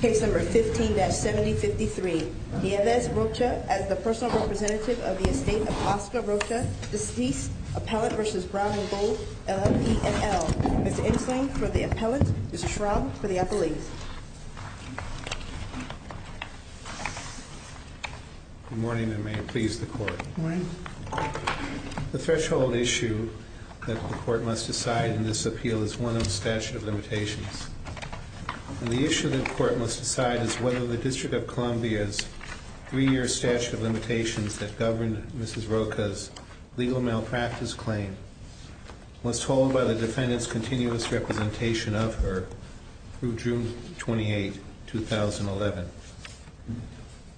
15-7053 Nienves Rocha as the personal representative of the estate of Oscar Rocha, deceased, Appellant v. Brown & Gould, LLP, NL. Ms. Insling for the Appellant, Mr. Schramm for the Appellate. Good morning and may it please the Court. Good morning. The threshold issue that the Court must decide in this appeal is one of the statute of limitations. And the issue that the Court must decide is whether the District of Columbia's three-year statute of limitations that governed Ms. Rocha's legal malpractice claim was told by the defendant's continuous representation of her through June 28, 2011.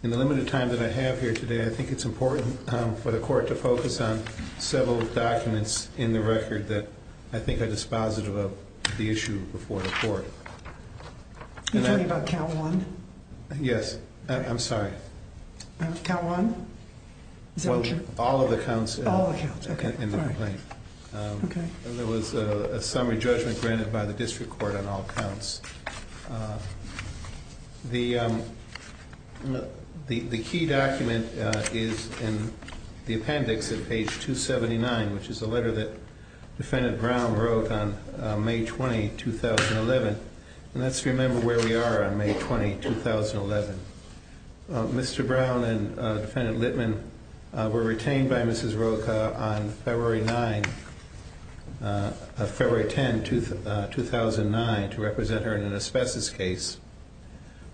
In the limited time that I have here today, I think it's important for the Court to focus on several documents in the record that I think are dispositive of the issue before the Court. Are you talking about count one? Yes. I'm sorry. Count one? All of the counts in the complaint. The key document is in the appendix at page 279, which is a letter that Defendant Brown wrote on May 20, 2011. And that's to remember where we are on May 20, 2011. Mr. Brown and Defendant Littman were retained by Mrs. Rocha on February 10, 2009 to represent her in an asbestos case.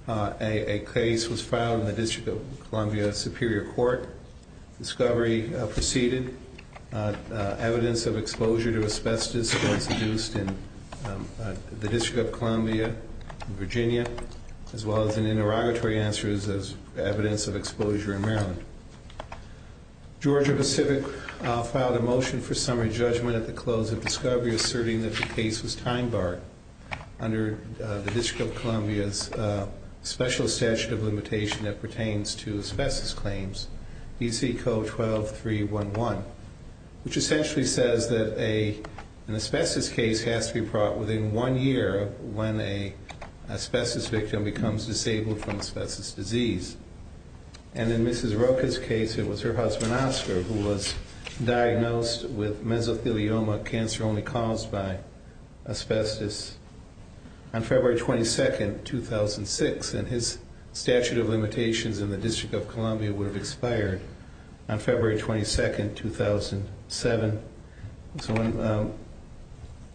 A case was filed in the District of Columbia Superior Court. Discovery proceeded. Evidence of exposure to asbestos was induced in the District of Columbia, Virginia, as well as in interrogatory answers as evidence of exposure in Maryland. Georgia Pacific filed a motion for summary judgment at the close of Discovery, asserting that the case was time-barred under the District of Columbia's special statute of limitation that pertains to asbestos claims, D.C. Code 12.311, which essentially says that an asbestos case has to be brought within one year when an asbestos victim becomes disabled from asbestos disease. And in Mrs. Rocha's case, it was her husband, Oscar, who was diagnosed with mesothelioma, a cancer only caused by asbestos, on February 22, 2006. And his statute of limitations in the District of Columbia would have expired on February 22, 2007. So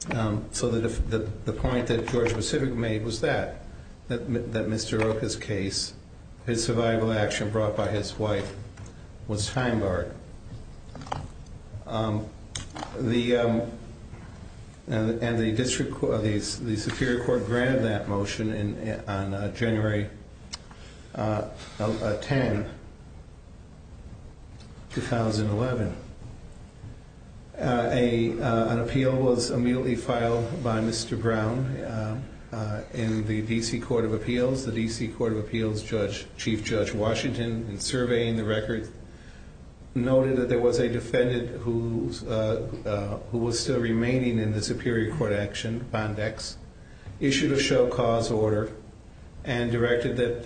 the point that Georgia Pacific made was that, that Mr. Rocha's case, his survival action brought by his wife, was time-barred. And the Superior Court granted that motion on January 10, 2011. An appeal was immediately filed by Mr. Brown in the D.C. Court of Appeals, the D.C. Court of Appeals Chief Judge Washington, in surveying the record, noted that there was a defendant who was still remaining in the Superior Court action, Bond X, issued a show-cause order, and directed that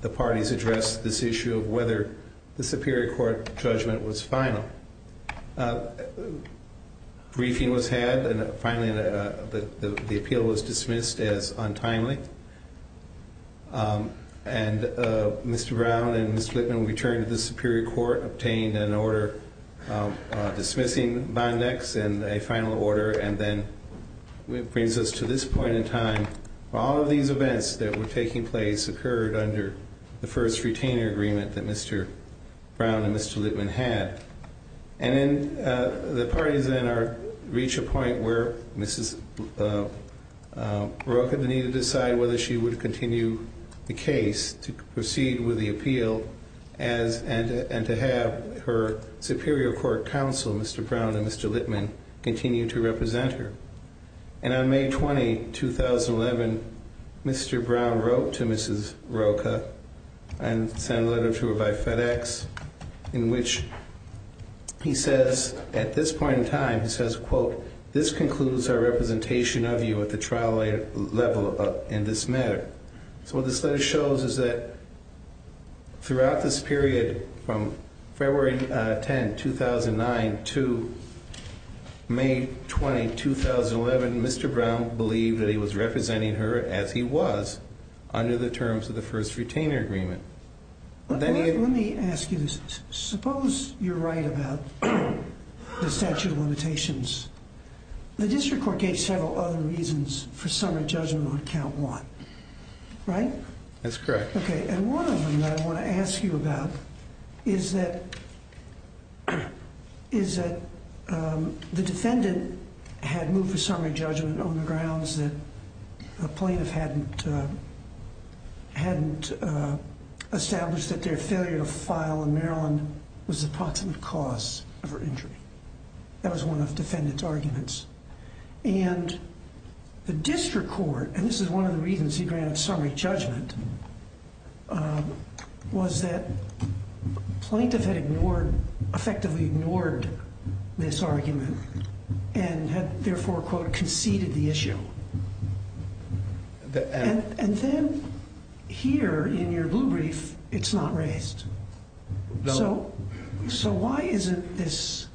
the parties address this issue of whether the Superior Court judgment was final. Briefing was had, and finally the appeal was dismissed as untimely. And Mr. Brown and Mr. Littman returned to the Superior Court, obtained an order dismissing Bond X, and a final order, and then it brings us to this point in time, where all of these events that were taking place occurred under the first retainer agreement that Mr. Brown and Mr. Littman had. And then the parties then reach a point where Mrs. Rocha needed to decide whether she would continue the case to proceed with the appeal and to have her Superior Court counsel, Mr. Brown and Mr. Littman, continue to represent her. And on May 20, 2011, Mr. Brown wrote to Mrs. Rocha and sent a letter to her by FedEx in which he says, at this point in time, he says, quote, this concludes our representation of you at the trial level in this matter. So what this letter shows is that throughout this period, from February 10, 2009 to May 20, 2011, Mr. Brown believed that he was representing her as he was under the terms of the first retainer agreement. Let me ask you this. Suppose you're right about the statute of limitations. The district court gave several other reasons for summary judgment on count one, right? That's correct. Okay. And one of them that I want to ask you about is that the defendant had moved for summary judgment on the grounds that a plaintiff hadn't established that their failure to file in Maryland was the proximate cause of her injury. That was one of the defendant's arguments. And the district court, and this is one of the reasons he granted summary judgment, was that the plaintiff had effectively ignored this argument and had therefore, quote, conceded the issue. And then here in your blue brief, it's not raised. So why isn't this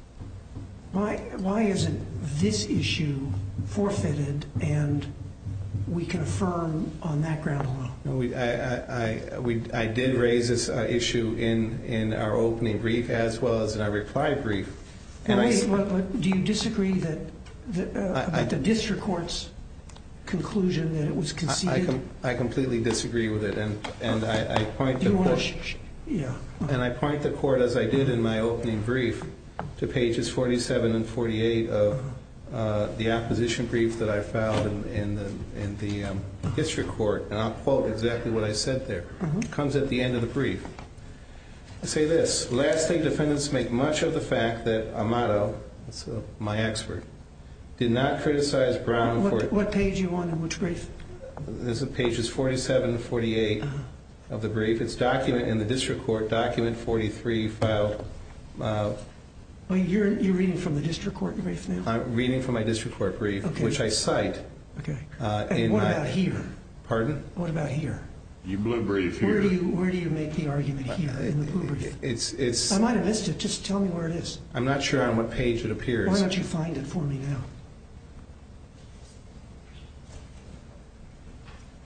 issue forfeited and we can affirm on that ground alone? I did raise this issue in our opening brief as well as in our reply brief. Do you disagree about the district court's conclusion that it was conceded? I completely disagree with it. And I point the court, as I did in my opening brief, to pages 47 and 48 of the opposition brief that I filed in the district court, and I'll quote exactly what I said there. It comes at the end of the brief. I say this. Lastly, defendants make much of the fact that Amato, my expert, did not criticize Brown for it. What page are you on and which brief? This is pages 47 and 48 of the brief. It's document in the district court, document 43 filed. You're reading from the district court brief now? I'm reading from my district court brief, which I cite. Okay. And what about here? Pardon? What about here? Your blue brief here. Where do you make the argument here in the blue brief? I might have missed it. Just tell me where it is. I'm not sure on what page it appears. Why don't you find it for me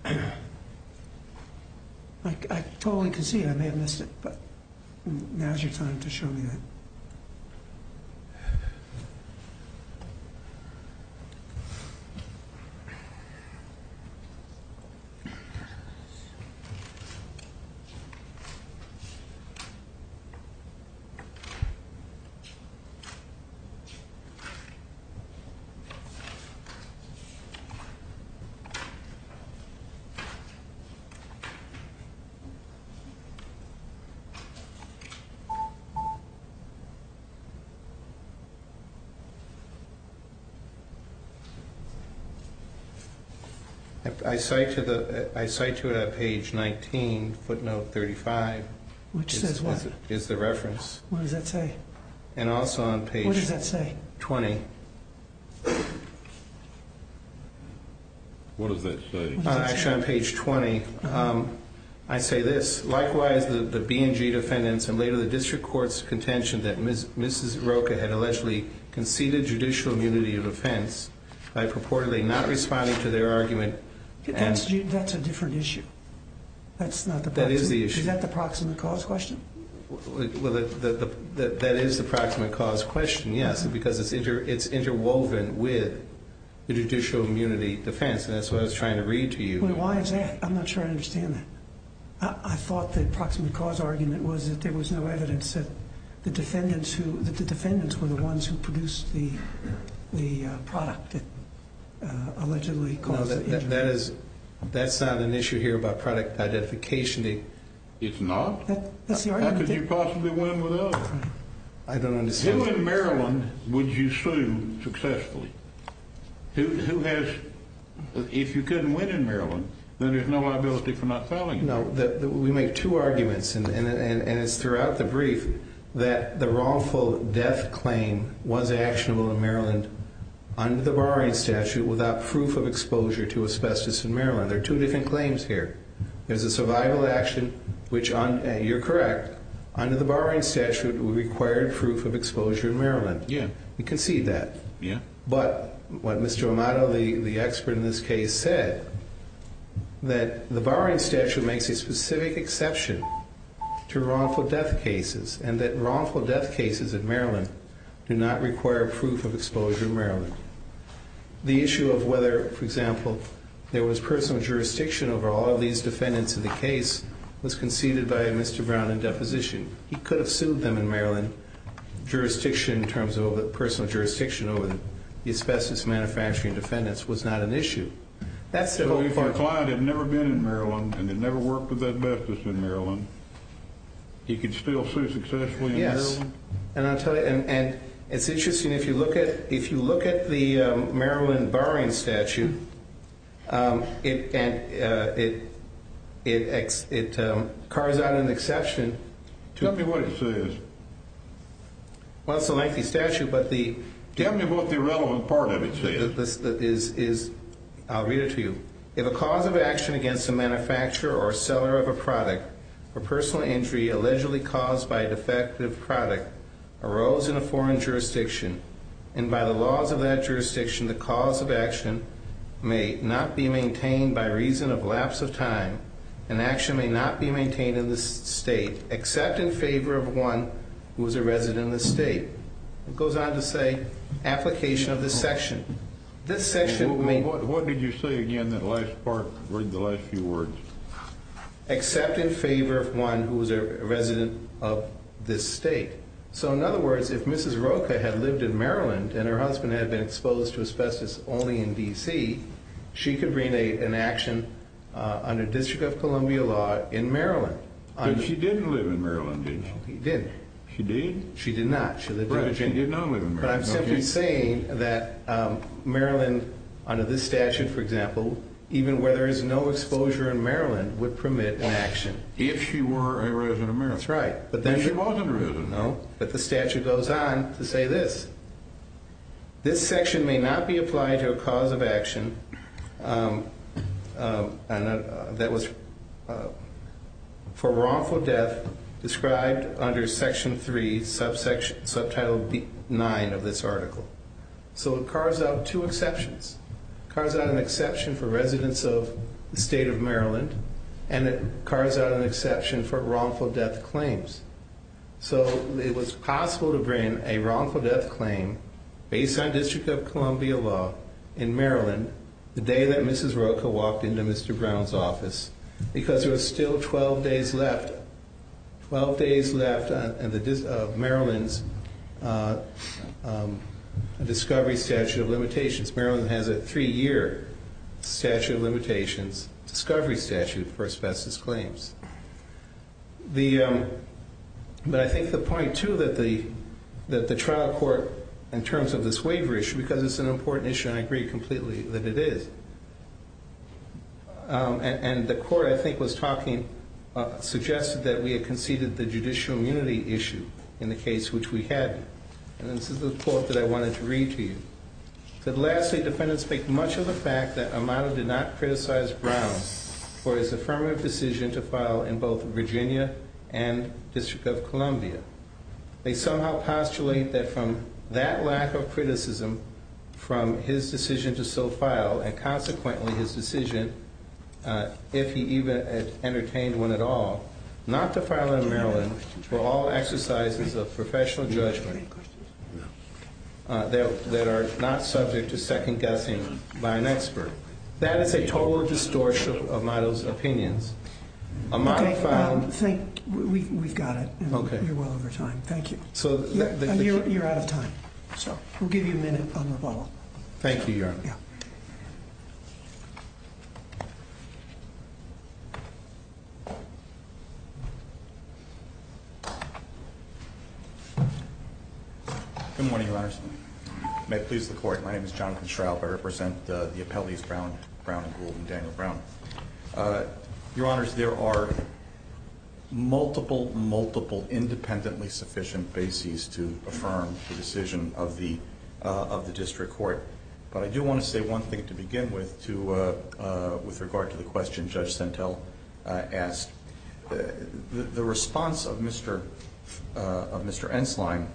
now? I totally can see I may have missed it, but now's your time to show me that. Okay. I cite to it on page 19, footnote 35. Which says what? Is the reference. What does that say? And also on page 20. What does that say? What does that say? Actually, on page 20, I say this. Likewise, the B&G defendants and later the district court's contention that Mrs. Rocha had allegedly conceded judicial immunity of offense by purportedly not responding to their argument. That's a different issue. That is the issue. Is that the proximate cause question? That is the proximate cause question, yes, because it's interwoven with the judicial immunity defense. That's what I was trying to read to you. Why is that? I'm not sure I understand that. I thought the proximate cause argument was that there was no evidence that the defendants were the ones who produced the product that allegedly caused the injury. That's not an issue here about product identification. It's not? That's the argument. How could you possibly win without it? I don't understand. Who in Maryland would you sue successfully? Who has the – if you couldn't win in Maryland, then there's no liability for not filing it. No, we make two arguments, and it's throughout the brief, that the wrongful death claim was actionable in Maryland under the barring statute without proof of exposure to asbestos in Maryland. There are two different claims here. There's a survival action, which you're correct, under the barring statute required proof of exposure in Maryland. Yeah. We concede that. Yeah. But what Mr. Amato, the expert in this case, said that the barring statute makes a specific exception to wrongful death cases and that wrongful death cases in Maryland do not require proof of exposure in Maryland. The issue of whether, for example, there was personal jurisdiction over all of these defendants in the case was conceded by Mr. Brown in deposition. He could have sued them in Maryland. Jurisdiction in terms of personal jurisdiction over the asbestos manufacturing defendants was not an issue. So if your client had never been in Maryland and had never worked with asbestos in Maryland, he could still sue successfully in Maryland? Yes. And I'll tell you, and it's interesting, if you look at the Maryland barring statute, it carves out an exception. Tell me what it says. Well, it's a lengthy statute. Tell me what the relevant part of it says. I'll read it to you. If a cause of action against a manufacturer or seller of a product for personal injury allegedly caused by a defective product arose in a jurisdiction, and by the laws of that jurisdiction, the cause of action may not be maintained by reason of lapse of time, and action may not be maintained in this state, except in favor of one who is a resident of the state. It goes on to say application of this section. What did you say again in the last part, the last few words? Except in favor of one who is a resident of this state. So, in other words, if Mrs. Rocha had lived in Maryland and her husband had been exposed to asbestos only in D.C., she could bring an action under District of Columbia law in Maryland. But she didn't live in Maryland, did she? No, she didn't. She did? She did not. But she did not live in Maryland. But I'm simply saying that Maryland, under this statute, for example, even where there is no exposure in Maryland, would permit an action. If she were a resident of Maryland. That's right. She wasn't a resident. No, but the statute goes on to say this. This section may not be applied to a cause of action that was for wrongful death described under Section 3, Subtitle 9 of this article. So it carves out two exceptions. It carves out an exception for residents of the state of Maryland, and it carves out an exception for wrongful death claims. So it was possible to bring a wrongful death claim, based on District of Columbia law in Maryland, the day that Mrs. Rocha walked into Mr. Brown's office, because there was still 12 days left. Twelve days left of Maryland's discovery statute of limitations. Since Maryland has a three-year statute of limitations discovery statute for asbestos claims. But I think the point, too, that the trial court, in terms of this waiver issue, because it's an important issue, and I agree completely that it is. And the court, I think, was talking, suggested that we had conceded the judicial immunity issue in the case which we had. And this is the quote that I wanted to read to you. It said, Lastly, defendants make much of the fact that Amado did not criticize Brown for his affirmative decision to file in both Virginia and District of Columbia. They somehow postulate that from that lack of criticism, from his decision to still file, and consequently his decision, if he even entertained one at all, not to file in Maryland for all exercises of professional judgment that are not subject to second-guessing by an expert. That is a total distortion of Amado's opinions. Okay, we've got it. You're well over time. Thank you. You're out of time. We'll give you a minute on rebuttal. Thank you, Your Honor. Good morning, Your Honor. May it please the Court. My name is Jonathan Schraub. I represent the appellees Brown and Gould and Daniel Brown. Your Honors, there are multiple, multiple independently sufficient bases to affirm the decision of the district court. But I do want to say one thing to begin with with regard to the question Judge Sentell asked. The response of Mr. Enslein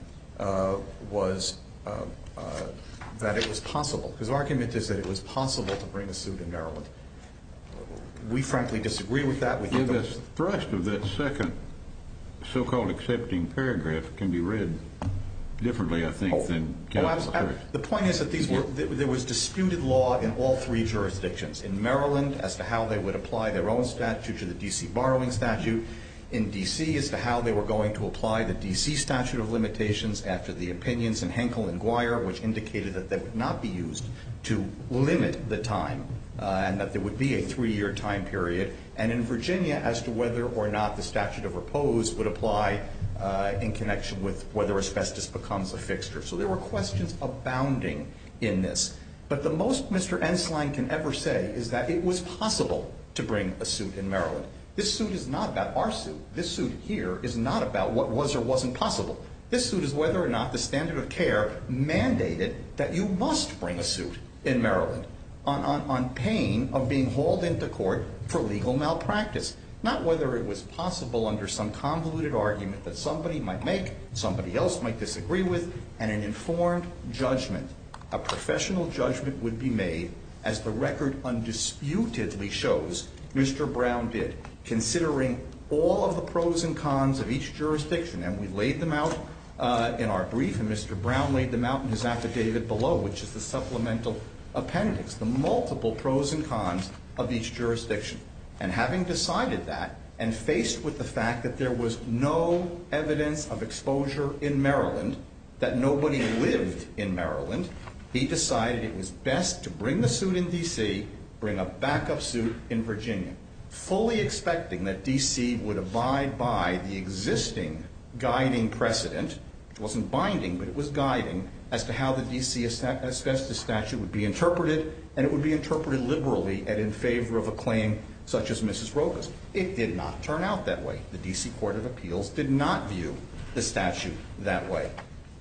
was that it was possible. His argument is that it was possible to bring a suit in Maryland. We, frankly, disagree with that. The thrust of that second so-called accepting paragraph can be read differently, I think, than Kevin's first. The point is that there was disputed law in all three jurisdictions, in Maryland as to how they would apply their own statute to the D.C. borrowing statute, in D.C. as to how they were going to apply the D.C. statute of limitations after the opinions in Henkel and Guyer, which indicated that they would not be used to limit the time and that there would be a three-year time period, and in Virginia as to whether or not the statute of repose would apply in connection with whether asbestos becomes a fixture. So there were questions abounding in this. But the most Mr. Enslein can ever say is that it was possible to bring a suit in Maryland. This suit is not about our suit. This suit here is not about what was or wasn't possible. This suit is whether or not the standard of care mandated that you must bring a suit in Maryland on pain of being hauled into court for legal malpractice, not whether it was possible under some convoluted argument that somebody might make, somebody else might disagree with, and an informed judgment, a professional judgment would be made, as the record undisputedly shows, Mr. Brown did, considering all of the pros and cons of each jurisdiction. And we laid them out in our brief, and Mr. Brown laid them out in his affidavit below, which is the supplemental appendix, the multiple pros and cons of each jurisdiction. And having decided that and faced with the fact that there was no evidence of exposure in Maryland, that nobody lived in Maryland, he decided it was best to bring the suit in D.C., bring a backup suit in Virginia, fully expecting that D.C. would abide by the existing guiding precedent, which wasn't binding, but it was guiding, as to how the D.C. asbestos statute would be interpreted, and it would be interpreted liberally and in favor of a claim such as Mrs. Rocha's. It did not turn out that way. The D.C. Court of Appeals did not view the statute that way.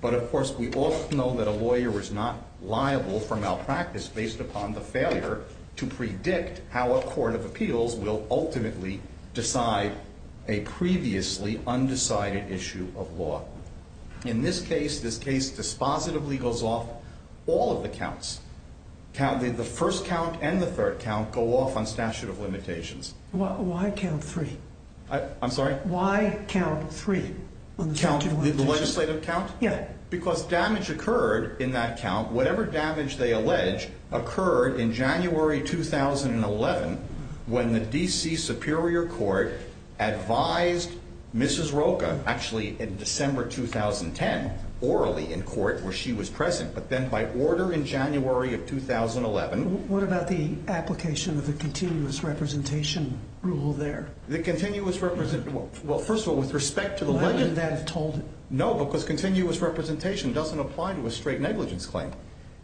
But, of course, we all know that a lawyer is not liable for malpractice based upon the failure to predict how a court of appeals will ultimately decide a previously undecided issue of law. In this case, this case dispositively goes off all of the counts. The first count and the third count go off on statute of limitations. Why count three? I'm sorry? Why count three on the statute of limitations? The legislative count? Yeah. Because damage occurred in that count, whatever damage they allege, occurred in January 2011 when the D.C. Superior Court advised Mrs. Rocha, actually in December 2010, orally in court where she was present, but then by order in January of 2011. What about the application of the continuous representation rule there? The continuous representation, well, first of all, with respect to the legislative. Why didn't that have told it? No, because continuous representation doesn't apply to a straight negligence claim.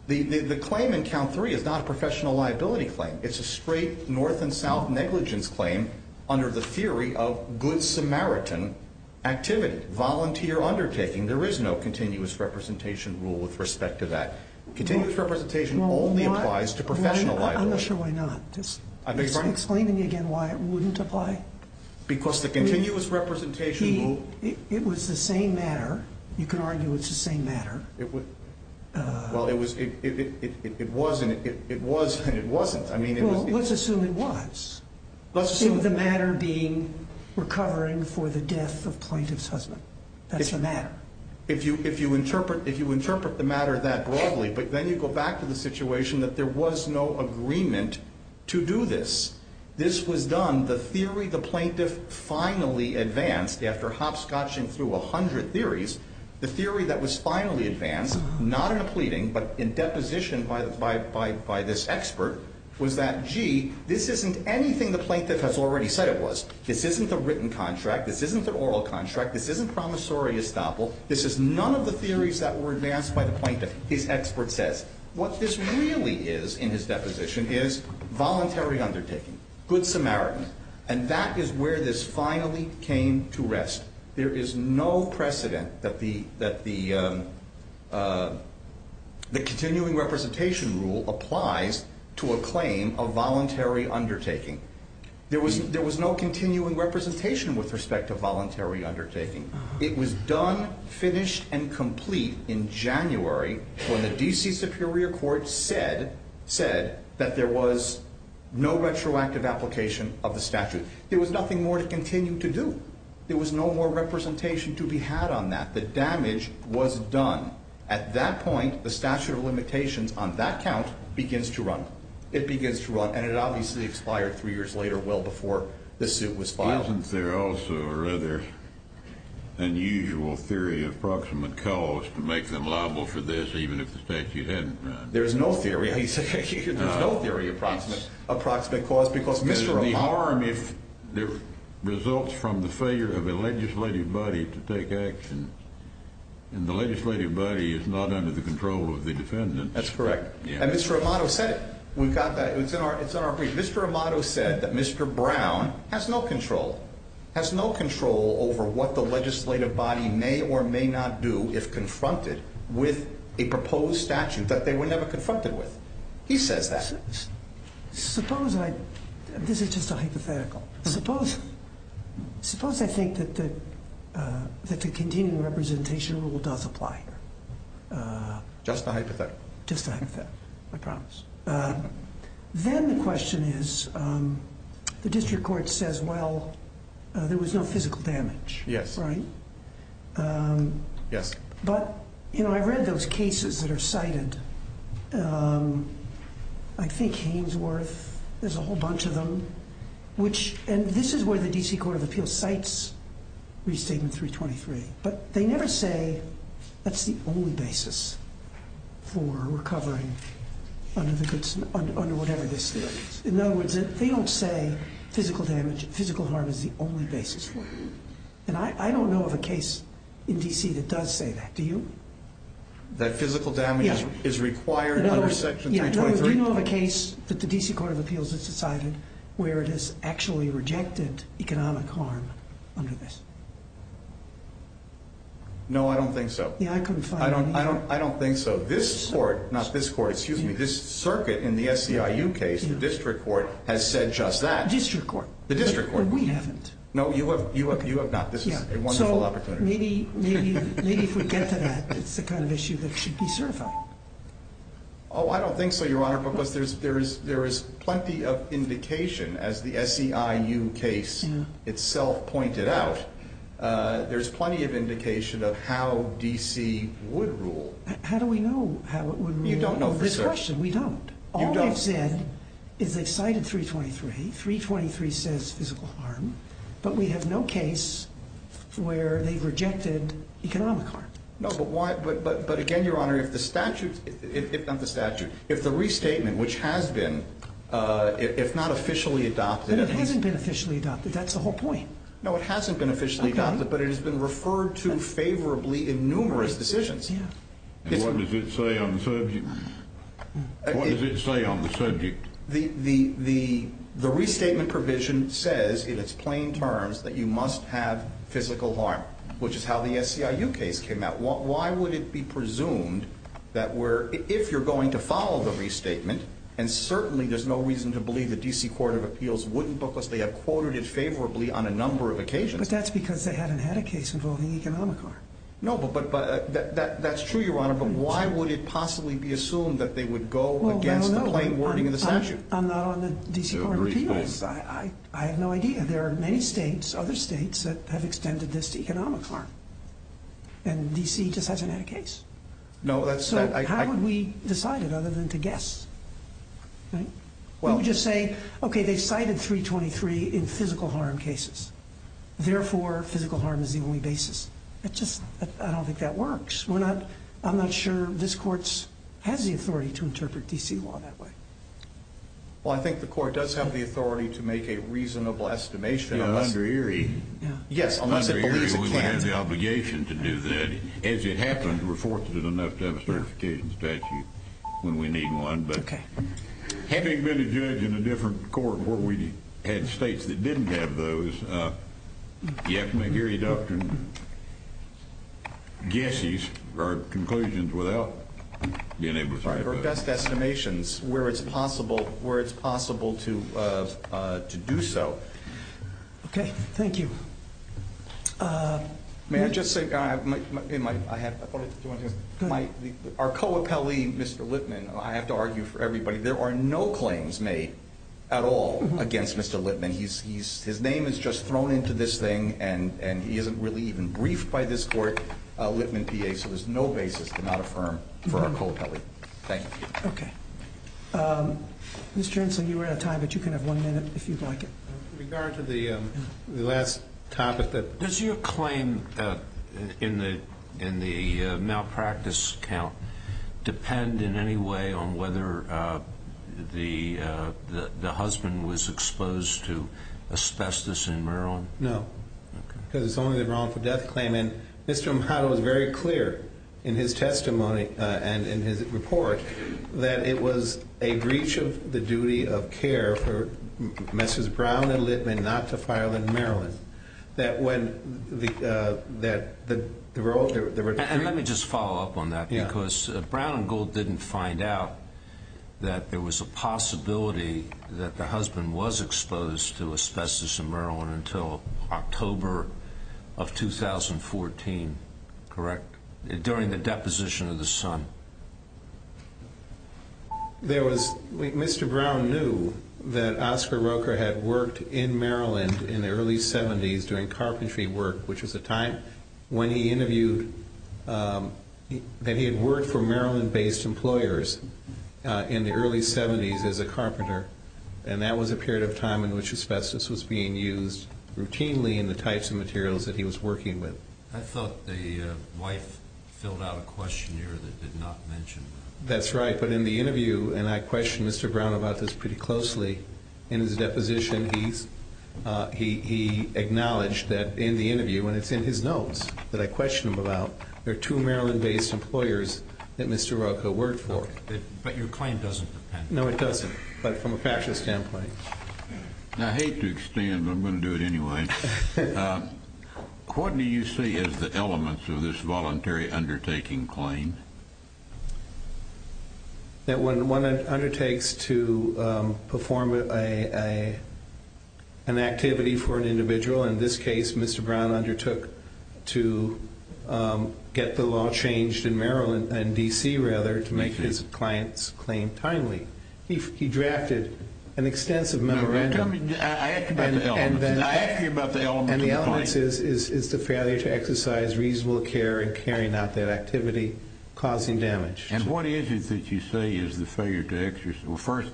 The claim in count three is not a professional liability claim. It's a straight north and south negligence claim under the theory of good Samaritan activity, volunteer undertaking. There is no continuous representation rule with respect to that. Continuous representation only applies to professional liability. I'm not sure why not. Just explain to me again why it wouldn't apply. Because the continuous representation rule. It was the same matter. You can argue it's the same matter. Well, it was and it wasn't. Well, let's assume it was. Let's assume the matter being recovering for the death of plaintiff's husband. That's the matter. If you interpret the matter that broadly, but then you go back to the situation that there was no agreement to do this. This was done, the theory the plaintiff finally advanced after hopscotching through 100 theories, the theory that was finally advanced, not in a pleading, but in deposition by this expert, was that, gee, this isn't anything the plaintiff has already said it was. This isn't the written contract. This isn't the oral contract. This isn't promissory estoppel. This is none of the theories that were advanced by the plaintiff, his expert says. What this really is in his deposition is voluntary undertaking. Good Samaritan. And that is where this finally came to rest. There is no precedent that the continuing representation rule applies to a claim of voluntary undertaking. There was no continuing representation with respect to voluntary undertaking. It was done, finished, and complete in January when the D.C. Superior Court said that there was no retroactive application of the statute. There was nothing more to continue to do. There was no more representation to be had on that. The damage was done. At that point, the statute of limitations on that count begins to run. It begins to run. And it obviously expired three years later, well before the suit was filed. Isn't there also a rather unusual theory of approximate cause to make them liable for this, even if the statute hadn't run? There is no theory. He said there's no theory of approximate cause because Mr. Amato The harm results from the failure of a legislative body to take action. And the legislative body is not under the control of the defendants. That's correct. And Mr. Amato said it. We've got that. It's in our brief. Mr. Amato said that Mr. Brown has no control. Has no control over what the legislative body may or may not do if confronted with a proposed statute that they were never confronted with. He says that. Suppose I, this is just a hypothetical. Suppose I think that the continuing representation rule does apply. Just a hypothetical. Just a hypothetical. I promise. Then the question is, the district court says, well, there was no physical damage. Yes. Right? Yes. But, you know, I read those cases that are cited. I think Hainesworth, there's a whole bunch of them, which, and this is where the D.C. Court of Appeals cites Restatement 323. But they never say that's the only basis for recovering under whatever this theory is. In other words, they don't say physical damage, physical harm is the only basis for it. And I don't know of a case in D.C. that does say that. Do you? That physical damage is required under Section 323? Do you know of a case that the D.C. Court of Appeals has cited where it has actually rejected economic harm under this? No, I don't think so. Yeah, I couldn't find any. I don't think so. This court, not this court, excuse me, this circuit in the SEIU case, the district court, has said just that. District court. The district court. We haven't. No, you have not. This is a wonderful opportunity. So maybe if we get to that, it's the kind of issue that should be certified. Oh, I don't think so, Your Honor, because there is plenty of indication, as the SEIU case itself pointed out, there's plenty of indication of how D.C. would rule. How do we know how it would rule? You don't know for certain. This question, we don't. You don't. All they've said is they've cited 323. 323 says physical harm. But we have no case where they've rejected economic harm. No, but again, Your Honor, if the statute, if not the statute, if the restatement, which has been, if not officially adopted. But it hasn't been officially adopted. That's the whole point. No, it hasn't been officially adopted, but it has been referred to favorably in numerous decisions. And what does it say on the subject? What does it say on the subject? The restatement provision says, in its plain terms, that you must have physical harm, which is how the SEIU case came out. Why would it be presumed that if you're going to follow the restatement, and certainly there's no reason to believe the D.C. Court of Appeals wouldn't because they have quoted it favorably on a number of occasions. But that's because they haven't had a case involving economic harm. No, but that's true, Your Honor, but why would it possibly be assumed that they would go against the plain wording of the statute? I'm not on the D.C. Court of Appeals. I have no idea. There are many states, other states, that have extended this to economic harm, and D.C. just hasn't had a case. So how would we decide it other than to guess? We would just say, okay, they cited 323 in physical harm cases, therefore physical harm is the only basis. I don't think that works. I'm not sure this Court has the authority to interpret D.C. law that way. Well, I think the Court does have the authority to make a reasonable estimation. Yeah, under Erie. Yes, unless it believes it can't. Under Erie, we have the obligation to do that. As it happens, we're fortunate enough to have a certification statute when we need one. Okay. But having been a judge in a different court where we had states that didn't have those, you have to make Erie doctrine guesses or conclusions without being able to say those. Those are best estimations where it's possible to do so. Okay. Thank you. May I just say, in my head, I have to argue for everybody. There are no claims made at all against Mr. Lippman. His name is just thrown into this thing, and he isn't really even briefed by this court, Lippman, D.A., so there's no basis to not affirm for Arcoa Pelli. Thank you. Okay. Mr. Inslee, you were out of time, but you can have one minute if you'd like. With regard to the last topic, does your claim in the malpractice count depend in any way on whether the husband was exposed to asbestos in Maryland? No. Okay. In his testimony and in his report, that it was a breach of the duty of care for Mrs. Brown and Lippman not to file in Maryland, that when the role of their attorney And let me just follow up on that because Brown and Gold didn't find out that there was a possibility that the husband was exposed to asbestos in Maryland until October of 2014. Correct. During the deposition of the son. There was, Mr. Brown knew that Oscar Roker had worked in Maryland in the early 70s doing carpentry work, which was a time when he interviewed, that he had worked for Maryland-based employers in the early 70s as a carpenter, and that was a period of time in which asbestos was being used routinely in the types of materials that he was working with. I thought the wife filled out a questionnaire that did not mention that. That's right, but in the interview, and I questioned Mr. Brown about this pretty closely in his deposition, he acknowledged that in the interview, and it's in his notes that I questioned him about, there are two Maryland-based employers that Mr. Roker worked for. But your claim doesn't depend. No, it doesn't, but from a factual standpoint. I hate to extend, but I'm going to do it anyway. What do you see as the elements of this voluntary undertaking claim? When one undertakes to perform an activity for an individual, in this case, Mr. Brown undertook to get the law changed in DC to make his client's claim timely. He drafted an extensive memorandum. I asked you about the elements. And the elements is the failure to exercise reasonable care in carrying out that activity, causing damage. And what is it that you say is the failure to exercise? Well, first,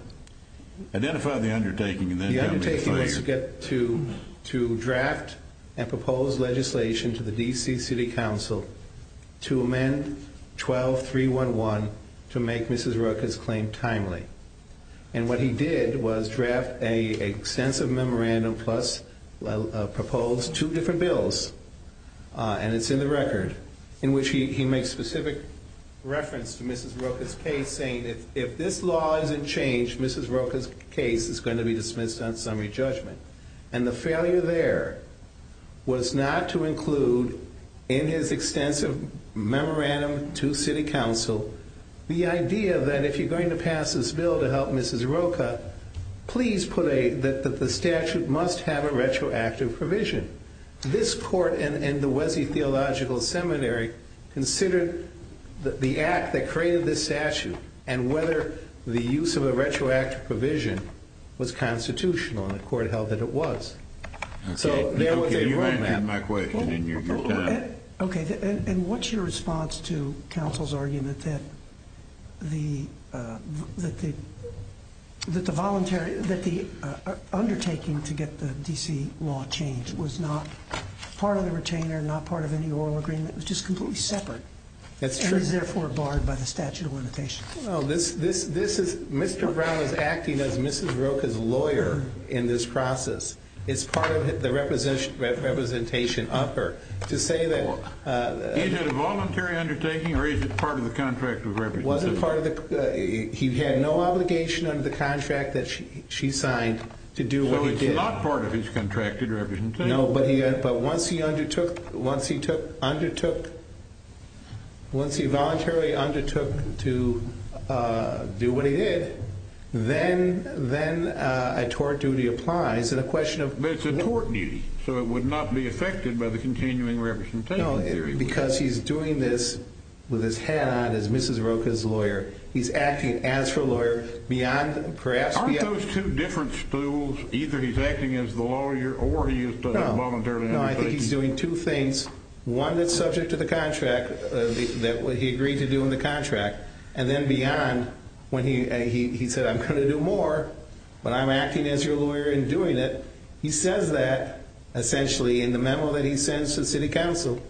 identify the undertaking and then tell me the failure. The undertaking was to draft and propose legislation to the DC City Council to amend 12.311 to make Mrs. Roker's claim timely. And what he did was draft an extensive memorandum plus propose two different bills. And it's in the record, in which he makes specific reference to Mrs. Roker's case, saying if this law isn't changed, Mrs. Roker's case is going to be dismissed on summary judgment. And the failure there was not to include in his extensive memorandum to City Council the idea that if you're going to pass this bill to help Mrs. Roker, please put a, that the statute must have a retroactive provision. This court and the Wesley Theological Seminary considered the act that created this statute and whether the use of a retroactive provision was constitutional. And the court held that it was. So there was a roadmap. Okay. And what's your response to counsel's argument that the, that the, that the voluntary, that the undertaking to get the DC law changed was not part of the retainer, not part of any oral agreement. It was just completely separate. That's true. And is therefore barred by the statute of limitations. Well, this, this, this is, Mr. Brown is acting as Mrs. Roker's lawyer in this process. It's part of the representation of her. To say that. Is it a voluntary undertaking or is it part of the contract of representation? It wasn't part of the, he had no obligation under the contract that she, she signed to do what he did. So it's not part of his contracted representation. No, but he, but once he undertook, once he took, undertook, once he voluntarily undertook to do what he did, then, then a tort duty applies. And a question of. It's a tort duty. So it would not be affected by the continuing representation theory. Because he's doing this with his hat on as Mrs. Roker's lawyer. He's acting as for lawyer beyond perhaps. Aren't those two different stools? Either he's acting as the lawyer or he is voluntarily. No, I think he's doing two things. One that's subject to the contract that he agreed to do in the contract. And then beyond when he, he said, I'm going to do more. But I'm acting as your lawyer and doing it. He says that essentially in the memo that he sends to the city council.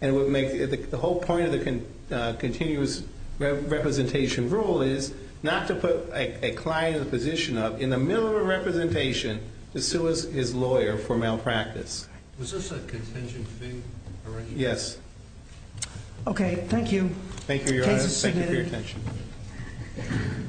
And it would make the whole point of the continuous representation rule is not to put a client in the position of in the middle of a representation to sue his lawyer for malpractice. Was this a contention thing? Yes. Okay. Thank you. Thank you, Your Honor. Thank you for your attention.